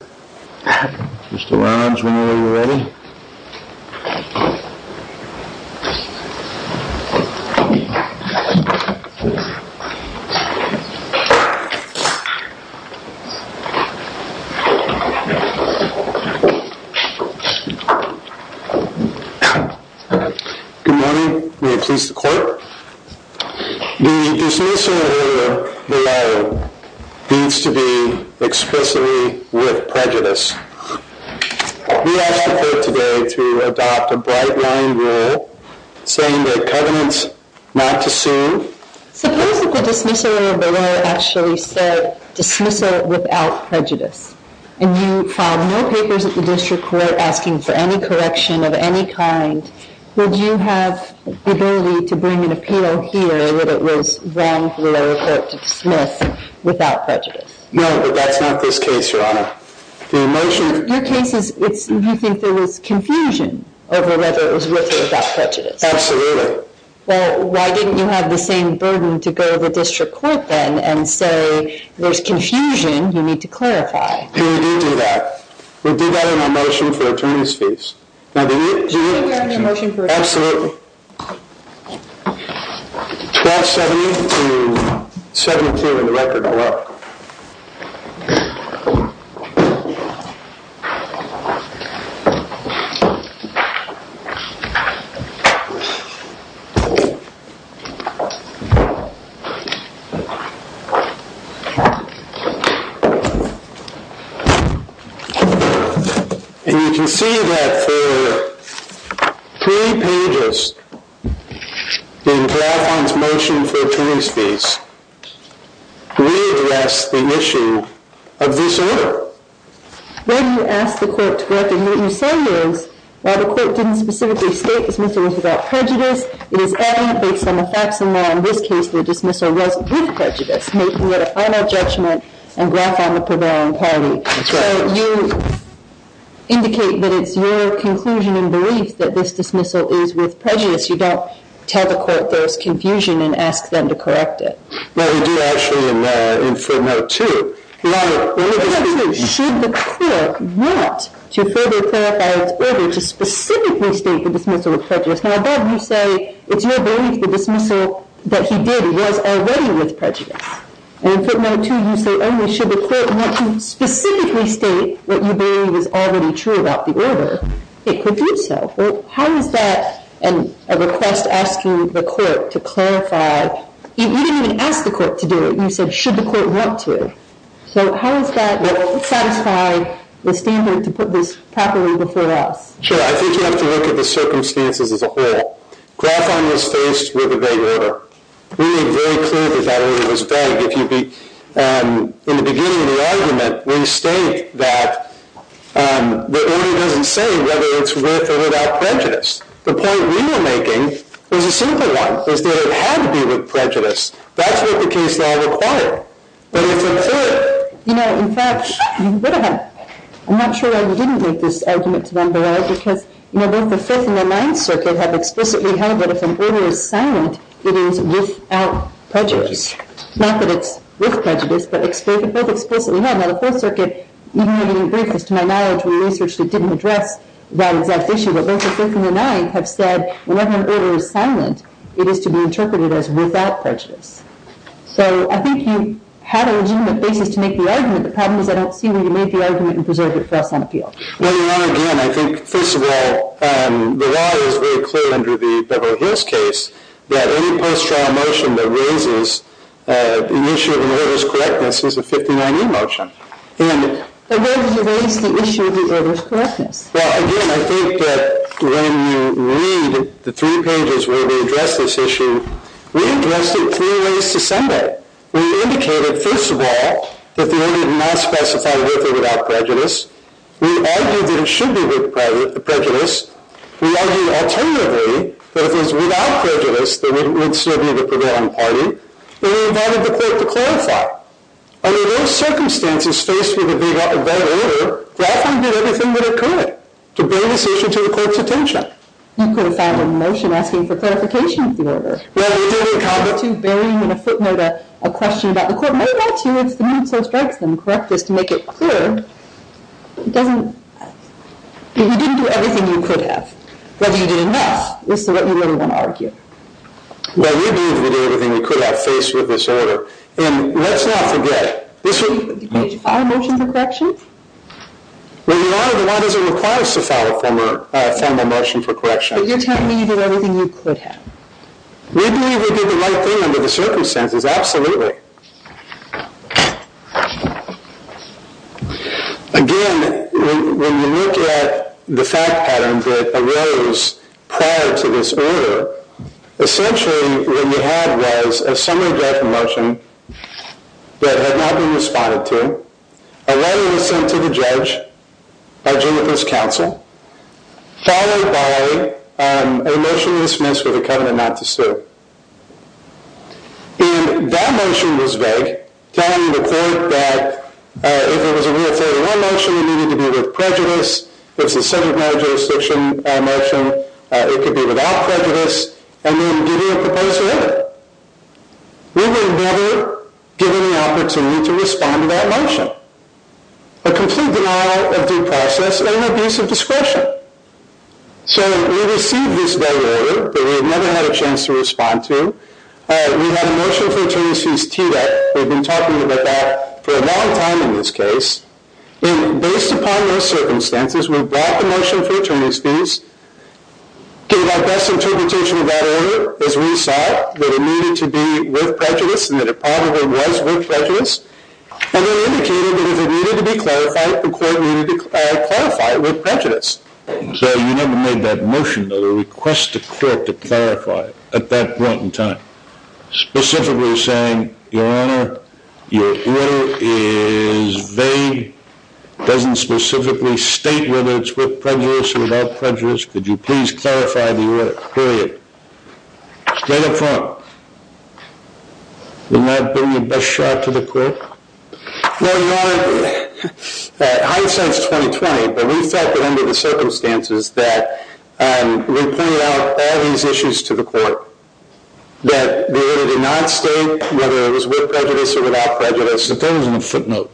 Good morning, may it please the court, the dismissal order, the letter needs to be expressly expressed. I'm going to go ahead and ask for a motion. Your case is, you think there was confusion over whether it was worth it without prejudice? Absolutely. Well, why didn't you have the same burden to go to the district court then and say, there's confusion, you need to clarify? We did do that. We did that in our motion for attorney's fees. Absolutely. 1270 to 72 in the record below. And you can see that for three pages in Graphon's motion for attorney's fees, we have left out the confusion. So, I'm not going to stress this issue. I just want to stress the issue of this order. Well, you asked the court to correct it. And what you say is, while the court didn't specifically state the dismissal was about prejudice, it is evident based on the facts and law in this case, the dismissal was with prejudice, making it a final judgment on Graphon the prevailing party. That's right. So you indicate that it's your conclusion and belief that this dismissal is with prejudice. You don't tell the court there was confusion and ask them to correct it. Well, we did actually in footnote two. Now, you said, should the court want to further clarify its order to specifically state the dismissal of prejudice, how about you say, it's your belief the dismissal that he did was already with prejudice? And in footnote two, you say, oh, you should the court want to specifically state what you believe is already true about the order, it could do so. How does that, and a request asking the court to clarify, you didn't even ask the court to do it. You said, should the court want to. So how does that satisfy the standpoint to put this properly before us? Sure. I think you have to look at the circumstances as a whole. Graphon was faced with a vague order. We made very clear that that order was vague. If you'd be, in the beginning of the argument, we state that the order doesn't say whether it's with or without prejudice. The point we were making was a simple one, is that it had to be with prejudice. That's what the case law required. But it's a third. You know, in fact, you would have. I'm not sure why you didn't make this argument to them, but I, because, you know, both the Fifth and the Ninth Circuit have explicitly held that if an order is silent, it is without prejudice. Not that it's with prejudice, but explicitly, both explicitly held. Now, the Fourth Circuit, even though you didn't bring this to my knowledge, when you research it, didn't address that exact issue. But both the Fifth and the Ninth have said, whenever an order is silent, it is to be interpreted as without prejudice. So I think you have a legitimate basis to make the argument. The problem is I don't see where you made the argument and preserved it for us on the field. Well, you're wrong again. I think, first of all, the law is very clear under the Beverly Hills case that any post-trial motion that raises the issue of an order's correctness is a 59E motion. In the Fifth and the Ninth. In the Fifth and the Ninth. In the Fifth and the Ninth. Well, again, I think that when you read the three pages where we addressed this issue, we addressed it three ways to some extent. We indicated, first of all, that the order did not specify with or without prejudice. We argued that it should be with prejudice. We argued, alternatively, that if it was without prejudice, then it would still be the prevailing Then, we invited the Court to clarify. Under those circumstances, faced with a bad order, Grafton did everything that it could to bring this issue to the Court's attention. You could have found a motion asking for clarification of the order. Well, you didn't have to. Burying in a footnote a question about the Court may have got to you. It's the mood so it strikes them. Correct this to make it clear. It doesn't... If you didn't do everything you could have, whether you did enough, this is what we really want to argue. Well, you did everything you could have faced with this order. And let's not forget... Did you file a motion for correction? Well, you are the one who requires to file a formal motion for correction. But you're telling me you did everything you could have. We believe we did the right thing under the circumstances. Absolutely. Again, when you look at the fact pattern that arose prior to this order, essentially what we had was a summary judgment motion that had not been responded to, a letter was sent to the judge by Jennifer's counsel, followed by a motion dismissed with a covenant not to sue. And that motion was vague, telling the Court that if it was a Real 31 motion, it needed to be with prejudice. If it was a civil jurisdiction motion, it could be without prejudice, and then giving a proposal in it. We were never given the opportunity to respond to that motion. A complete denial of due process and an abuse of discretion. So, we received this vague order, but we never had a chance to respond to it. We had a motion for attorney's fees TEDA. We've been talking about that for a long time in this case. And based upon those circumstances, we brought the motion for attorney's fees gave our best interpretation of that order, as we saw that it needed to be with prejudice and that it probably was with prejudice, and then indicated that if it needed to be clarified, the Court needed to clarify it with prejudice. So, you never made that motion, that a request to Court to clarify it at that point in time. Specifically saying, Your Honor, your order is vague, doesn't specifically state whether it's with prejudice or without prejudice. Could you please clarify the order, period. State it for me. Did not bring the best shot to the Court? No, Your Honor. High sense 2020, but we felt that under the circumstances that we pointed out all these issues to the Court. That the order did not state whether it was with prejudice or without prejudice. It doesn't have a footnote.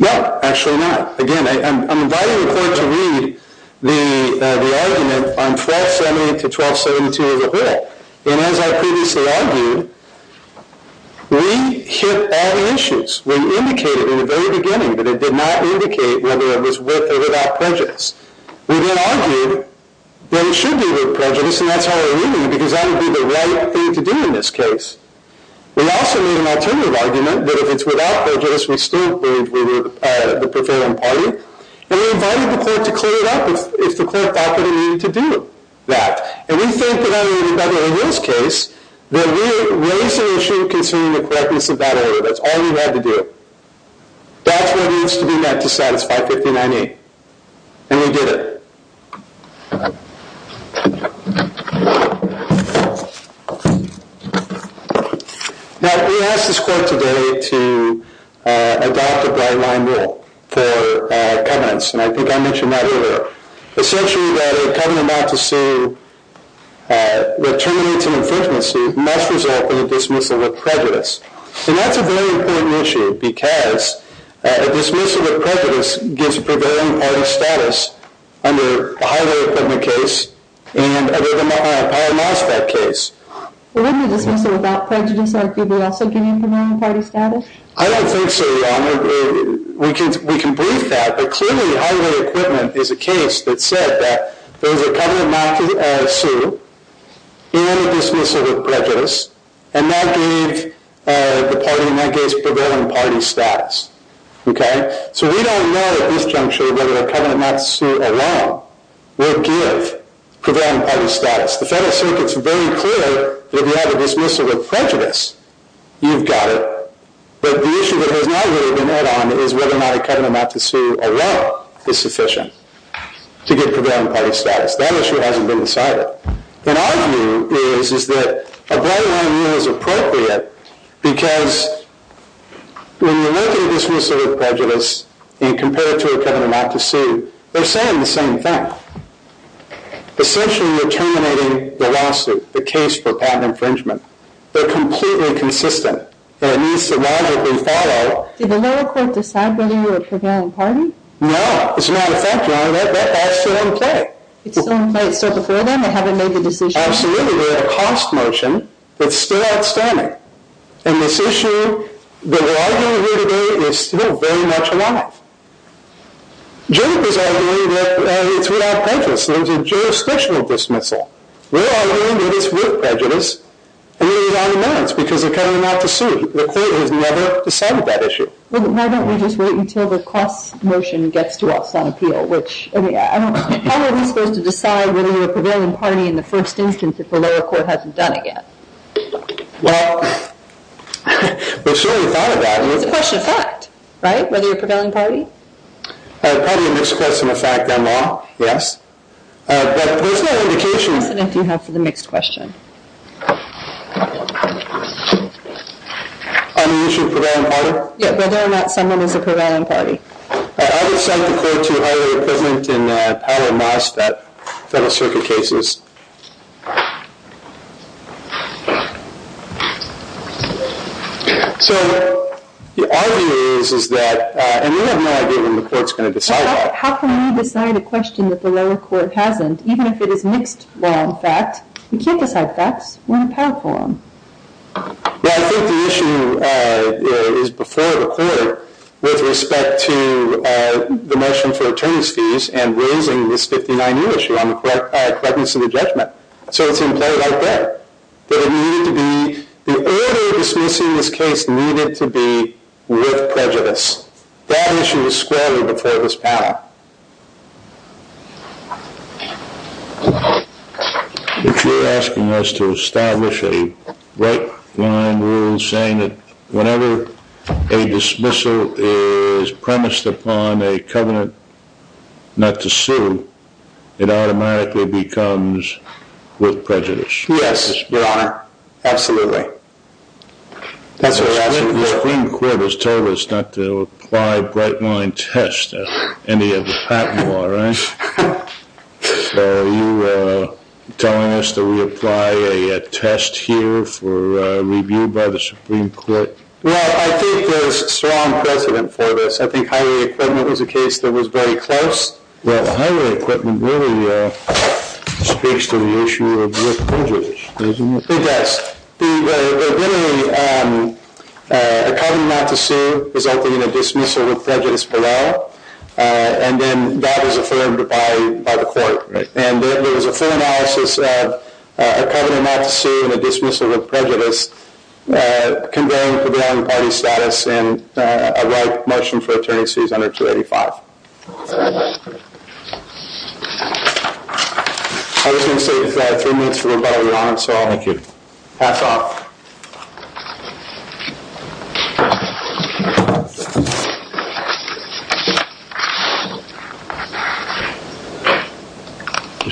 No, actually not. Again, I'm inviting the Court to read the argument on 1278 to 1272 as a whole. And as I previously argued, we hit all the issues. We indicated in the very beginning that it did not indicate whether it was with or without prejudice. We then argued that it should be with prejudice, and that's how we're reading it, because that would be the right thing to do in this case. We also made an alternative argument that if it's without prejudice, we still believe we were the preferring party. And we invited the Court to clear it up if the Court thought that it needed to do that. And we think that under the Federal Rules case, that we raised an issue concerning the correctness of that order. That's all we had to do. That's what it is to do that to satisfy 1598. And we did it. Now, we asked this Court today to adopt a bright-line rule for covenants, and I think I mentioned that earlier. Essentially, that a covenant not to sue that terminates an infringement suit must result in a dismissal with prejudice. And that's a very important issue, because a dismissal with prejudice under a highly-reputed law, and I recognize that case. I don't think so, Your Honor. We can believe that, but clearly highway equipment is a case that said that there was a covenant not to sue and a dismissal with prejudice, and that gave the party, in that case, prevailing party status. Okay? So we don't know at this juncture whether a covenant not to sue alone will give prevailing party status. The Federal Circuit's very clear that if you have a dismissal with prejudice, you've got it. But the issue that has not really been add-on is whether or not a covenant not to sue alone is sufficient to give prevailing party status. That issue hasn't been decided. And our view is, is that a bright-line rule is appropriate because when you look at a dismissal with prejudice and compare it to a covenant not to sue, they're saying the same thing. Essentially, you're terminating the lawsuit, the case for patent infringement. They're completely consistent that it needs to logically follow. Did the lower court decide whether you were a prevailing party? No. It's not a fact, Your Honor. That's still in play. It's still in play. It's still before them. They haven't made the decision. Absolutely. We have a cost motion. It's still outstanding. And this issue that we're arguing here today is still very much alive. Judges are arguing that it's without prejudice. There's a jurisdictional dismissal. We're arguing that it's with prejudice. And it is on the merits because of covenant not to sue. The court has never decided that issue. Well, why don't we just wait until the cost motion gets to us on appeal, which, I mean, how are we supposed to decide whether you're a prevailing party in the first instance if the lower court hasn't done it yet? Well, we've certainly thought about it. It's a question of fact, right? Whether you're a prevailing party? Probably a mixed question of fact, Your Honor. Yes. But there's no indication... What precedent do you have for the mixed question? On the issue of prevailing party? Yeah, whether or not someone is a prevailing party. I would cite the court to hire a president in Powell and Moss, federal circuit cases. So, our view is that... And we have no idea when the court's going to decide that. How can we decide a question that the lower court hasn't, even if it is mixed, well, in fact? We can't decide facts. We're in a Powell forum. Well, I think the issue is before the court with respect to the motion for attorney's fees and raising this 59U issue on the correctness of the judgment So, it's in play right there. That it needed to be... The order of dismissing this case needed to be with prejudice. That issue was squarely before this panel. If you're asking us to establish a right-wing rule saying that whenever a dismissal is premised upon a covenant not to sue, it automatically becomes with prejudice. Yes, Your Honor. Absolutely. That's what we're asking for. The Supreme Court has told us not to apply bright-line tests at any of the patent law, right? So, are you telling us that we apply a test here for review by the Supreme Court? Well, I think there's strong precedent for this. I think Highway Equivalent was a case that was very close. Well, Highway Equivalent really speaks to the issue of with prejudice, doesn't it? It does. Really, a covenant not to sue resulting in a dismissal with prejudice below and then that is affirmed by the court. And there was a full analysis of a covenant not to sue and a dismissal with prejudice conveying prevailing party status and a right motion for attorney's fees under 285. Thank you. I was going to say if I have three minutes for rebuttal, Your Honor, so I'll make it pass off.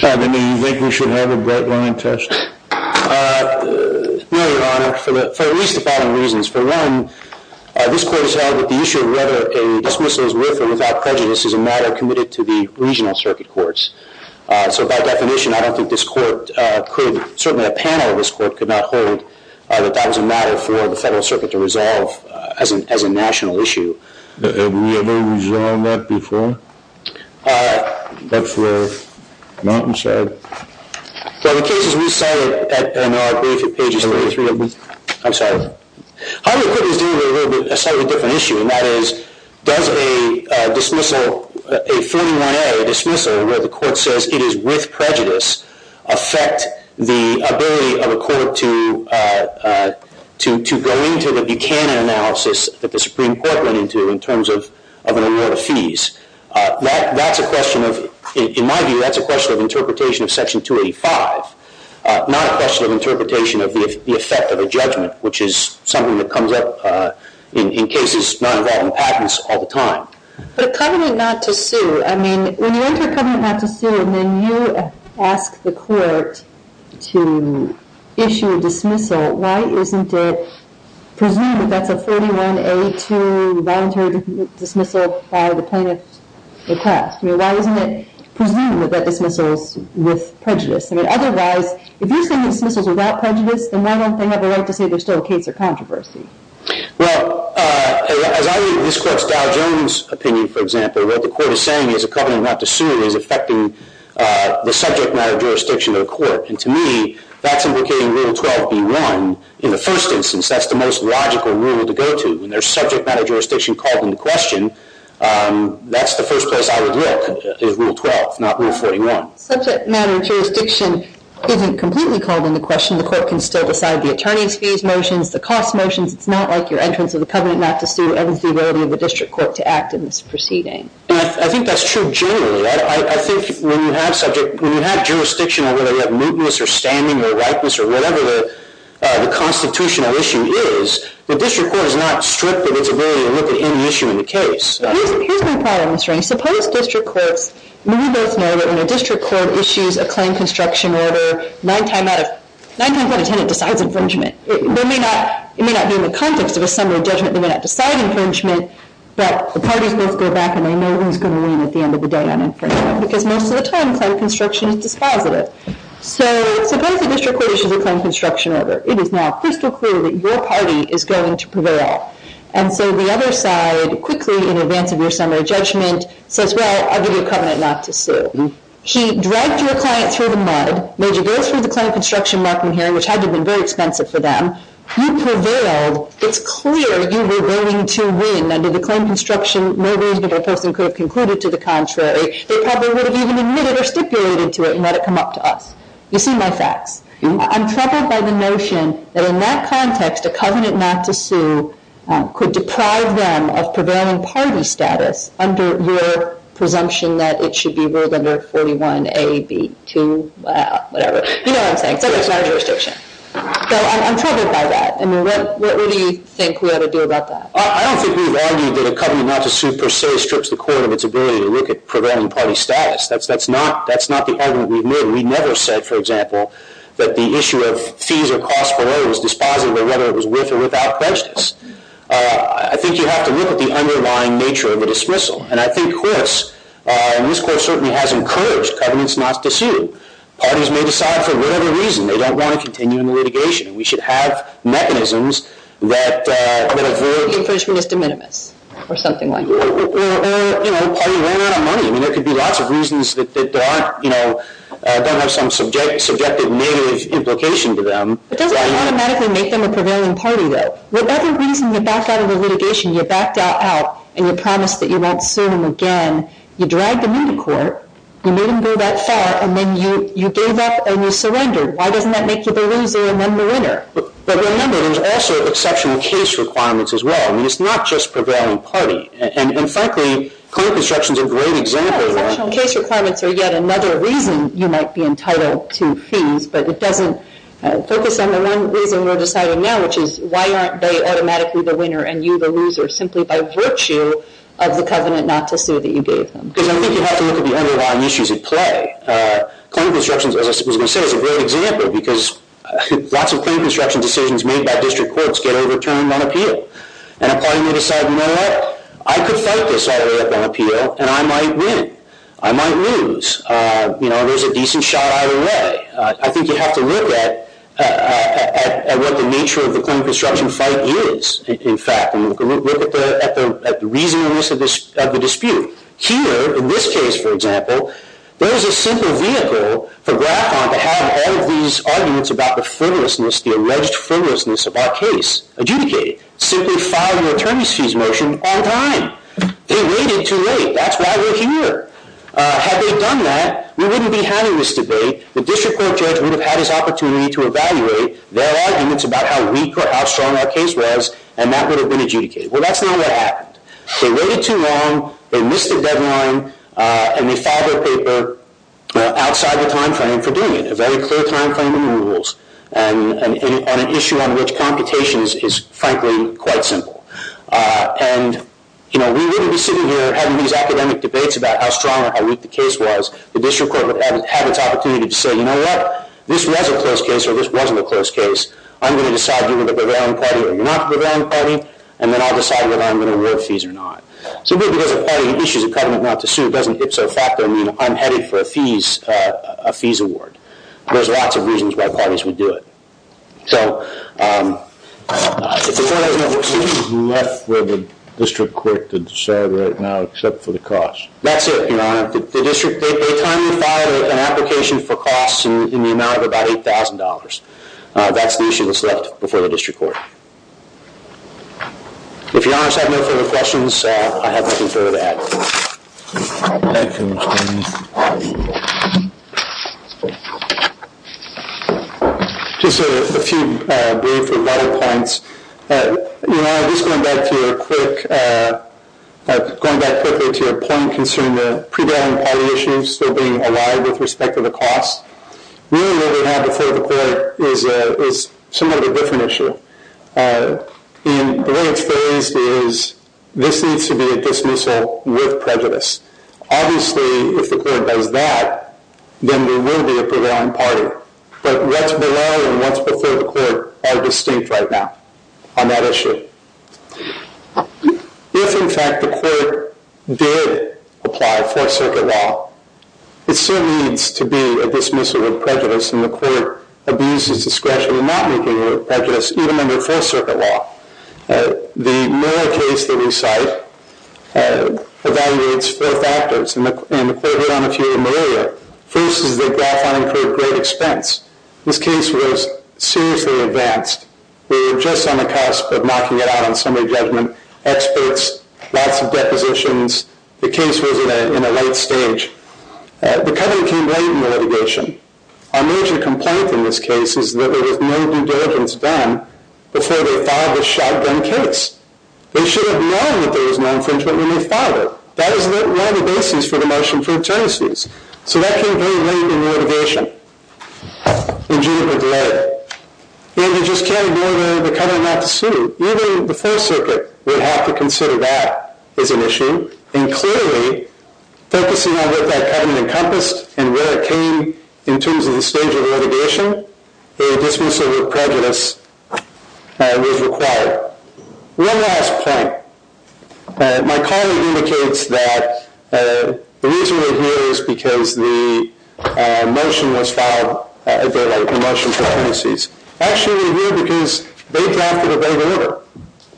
Your Honor, do you think we should have a bright-line test? No, Your Honor, for at least the following reasons. For one, this court has held that the issue of whether a dismissal is with or without prejudice is a matter committed to the regional circuit courts. So by definition, I don't think this court could, certainly a panel of this court could not hold that that was a matter for the federal circuit to resolve as a national issue. Have we ever resolved that before? That's where? Mountainside? Well, the cases we cited in our brief at pages 33 of the... I'm sorry. Highway Equivalent is dealing with a slightly different issue and that is does a dismissal, a 41A dismissal where the court says it is with prejudice affect the ability of a court to go into the Buchanan analysis that the Supreme Court went into in terms of an award of fees? That's a question of... In my view, that's a question of interpretation of Section 285, not a question of interpretation of the effect of a judgment, which is something that comes up in cases not involving patents all the time. But a covenant not to sue. I mean, when you enter a covenant not to sue and then you ask the court to issue a dismissal, why isn't it presumed that that's a 41A2 voluntary dismissal by the plaintiff's request? Why isn't it presumed that that dismissal is with prejudice? Otherwise, if you're saying the dismissal is without prejudice, then why don't they have a right to say there's still a case of controversy? Well, as I read this court's Dow Jones opinion, for example, what the court is saying is a covenant not to sue is affecting the subject matter jurisdiction of the court. And to me, that's implicating Rule 12B1. In the first instance, that's the most logical rule to go to. When there's subject matter jurisdiction called into question, that's the first place I would look is Rule 12, not Rule 41. Subject matter jurisdiction isn't completely called into question. The court can still decide the attorney's fees motions, the cost motions. It's not like your entrance of the covenant not to sue and it's the ability of the district court to act in this proceeding. And I think that's true generally. I think when you have jurisdiction, whether you have mootness or standing or ripeness or whatever the constitutional issue is, the district court is not stripped of its ability to look at any issue in the case. Here's my problem, Mr. Rankin. Suppose district courts, and we both know that when a district court issues a claim construction order, nine times out of ten it decides infringement. It may not be in the context of a summary judgment. They may not decide infringement, but the parties both go back and they know who's going to win at the end of the day on infringement because most of the time claim construction is dispositive. So suppose the district court issues a claim construction order. It is now crystal clear that your party is going to prevail. And so the other side quickly, in advance of your summary judgment, says, well, I'll give you a covenant not to sue. He dragged your client through the mud, made you go through the claim construction marking hearing, which had to have been very expensive for them. You prevailed. It's clear you were willing to win under the claim construction. No reasonable person could have concluded to the contrary. They probably would have even admitted or stipulated to it and let it come up to us. You see my facts. I'm troubled by the notion that in that context a covenant not to sue could deprive them of prevailing party status under your presumption that it should be ruled under 41A, B, 2, whatever. You know what I'm saying. So there's no jurisdiction. So I'm troubled by that. What do you think we ought to do about that? I don't think we've argued that a covenant not to sue per se strips the court of its ability to look at prevailing party status. That's not the argument we've made. We never said, for example, that the issue of fees or costs for whether it was dispositive or whether it was with or without prejudice. I think you have to look at the underlying nature of the dismissal. And I think Chris in this court certainly has encouraged covenants not to sue. Parties may decide for whatever reason they don't want to continue in the litigation. We should have mechanisms that avoid The infringement is de minimis or something like that. Or, you know, the party ran out of money. I mean, there could be lots of reasons that don't have some subjective negative implication to them. It doesn't automatically make them a prevailing party, though. Whatever reason you back out of the litigation, you backed out and you promised that you won't sue them again, you dragged them into court, you made them go that far, and then you gave up and you surrendered. Why doesn't that make you the loser and then the winner? But remember, there's also exceptional case requirements as well. I mean, it's not just prevailing party. And frankly, court construction is a great example of that. Well, exceptional case requirements are yet another reason you might be entitled to fees, but it doesn't focus on the one reason we're deciding now, which is why aren't they automatically the winner and you the loser, simply by virtue of the covenant not to sue that you gave them? Because I think you have to look at the underlying issues at play. Claim construction, as I was going to say, is a great example because lots of claim construction decisions made by district courts get overturned on appeal. And a party may decide, you know what, I could fight this all the way up on appeal and I might win. I might lose. You know, there's a decent shot either way. I think you have to look at what the nature of the claim construction fight is, in fact, and look at the reasonableness of the dispute. Here, in this case, for example, there is a simple vehicle for Graphon to have all of these arguments about the frivolousness, the alleged frivolousness of our case adjudicated. Simply file your attorney's fees motion on time. They waited too late. That's why we're here. Had they done that, we wouldn't be having this debate. The district court judge would have had his opportunity to evaluate their arguments about how weak or how strong our case was and that would have been adjudicated. Well, that's not what happened. They waited too long. They missed the deadline. And they filed their paper outside the time frame for doing it. A very clear time frame and rules. And an issue on which computation is, frankly, quite simple. And, you know, we wouldn't be sitting here having these academic debates about how strong or how weak the case was. The district court would have had its opportunity to say, you know what? This was a close case or this wasn't a close case. I'm going to decide whether you're the Bavarian party or you're not the Bavarian party, and then I'll decide whether I'm going to award fees or not. Simply because a party issues a covenant not to sue doesn't hipso facto mean I'm headed for a fees award. There's lots of reasons why parties would do it. So if the court doesn't award fees... You left where the district court could decide right now except for the cost. That's it, Your Honor. The district, they timely filed an application for costs in the amount of about $8,000. That's the issue that's left before the district court. If Your Honors have no further questions, I have nothing further to add. Thank you. Just a few brief rebuttal points. Your Honor, just going back to your quick... Going back quickly to your point concerning the pre-Bavarian party issues still being alive with respect to the cost. Really what we have before the court is somewhat of a different issue. And the way it's phrased is this needs to be a dismissal with prejudice. Obviously, if the court does that, then we will be a pre-Bavarian party. But what's below and what's before the court are distinct right now on that issue. If, in fact, the court did apply full circuit law, it still needs to be a dismissal with prejudice. And the court abuses discretion in not making it with prejudice, even under full circuit law. The Mueller case that we cite evaluates four factors. And the court hit on a few in the area. First is the graph I incurred great expense. This case was seriously advanced. We were just on the cusp of knocking it out on summary judgment. Experts, lots of depositions. The case was in a late stage. The cutting came late in the litigation. Our major complaint in this case is that there was no due diligence done before they filed this shotgun case. They should have known that there was no infringement when they filed it. That was one of the basis for the motion for internecies. So that came very late in the litigation. And you just can't ignore the cutting of the suit. Even the full circuit would have to consider that as an issue. And clearly, focusing on what that cutting encompassed and where it came in terms of the stage of litigation, a dismissal with prejudice was required. One last point. My colleague indicates that the reason we're here is because the motion was filed a bit late, the motion for internecies. Actually, we're here because they drafted a vague order.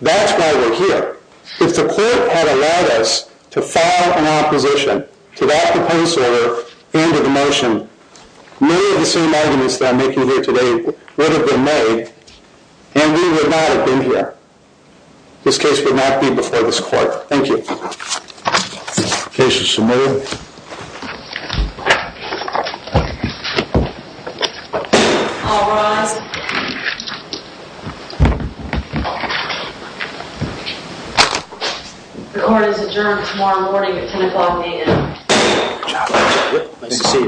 That's why we're here. If the court had allowed us to file an opposition to that proposed order and to the motion, many of the same arguments that I'm making here today would have been made and we would not have been here. This case would not be before this court. Thank you. The case is submitted. All rise. The court is adjourned tomorrow morning at 10 o'clock a.m. Good job. Nice to see you.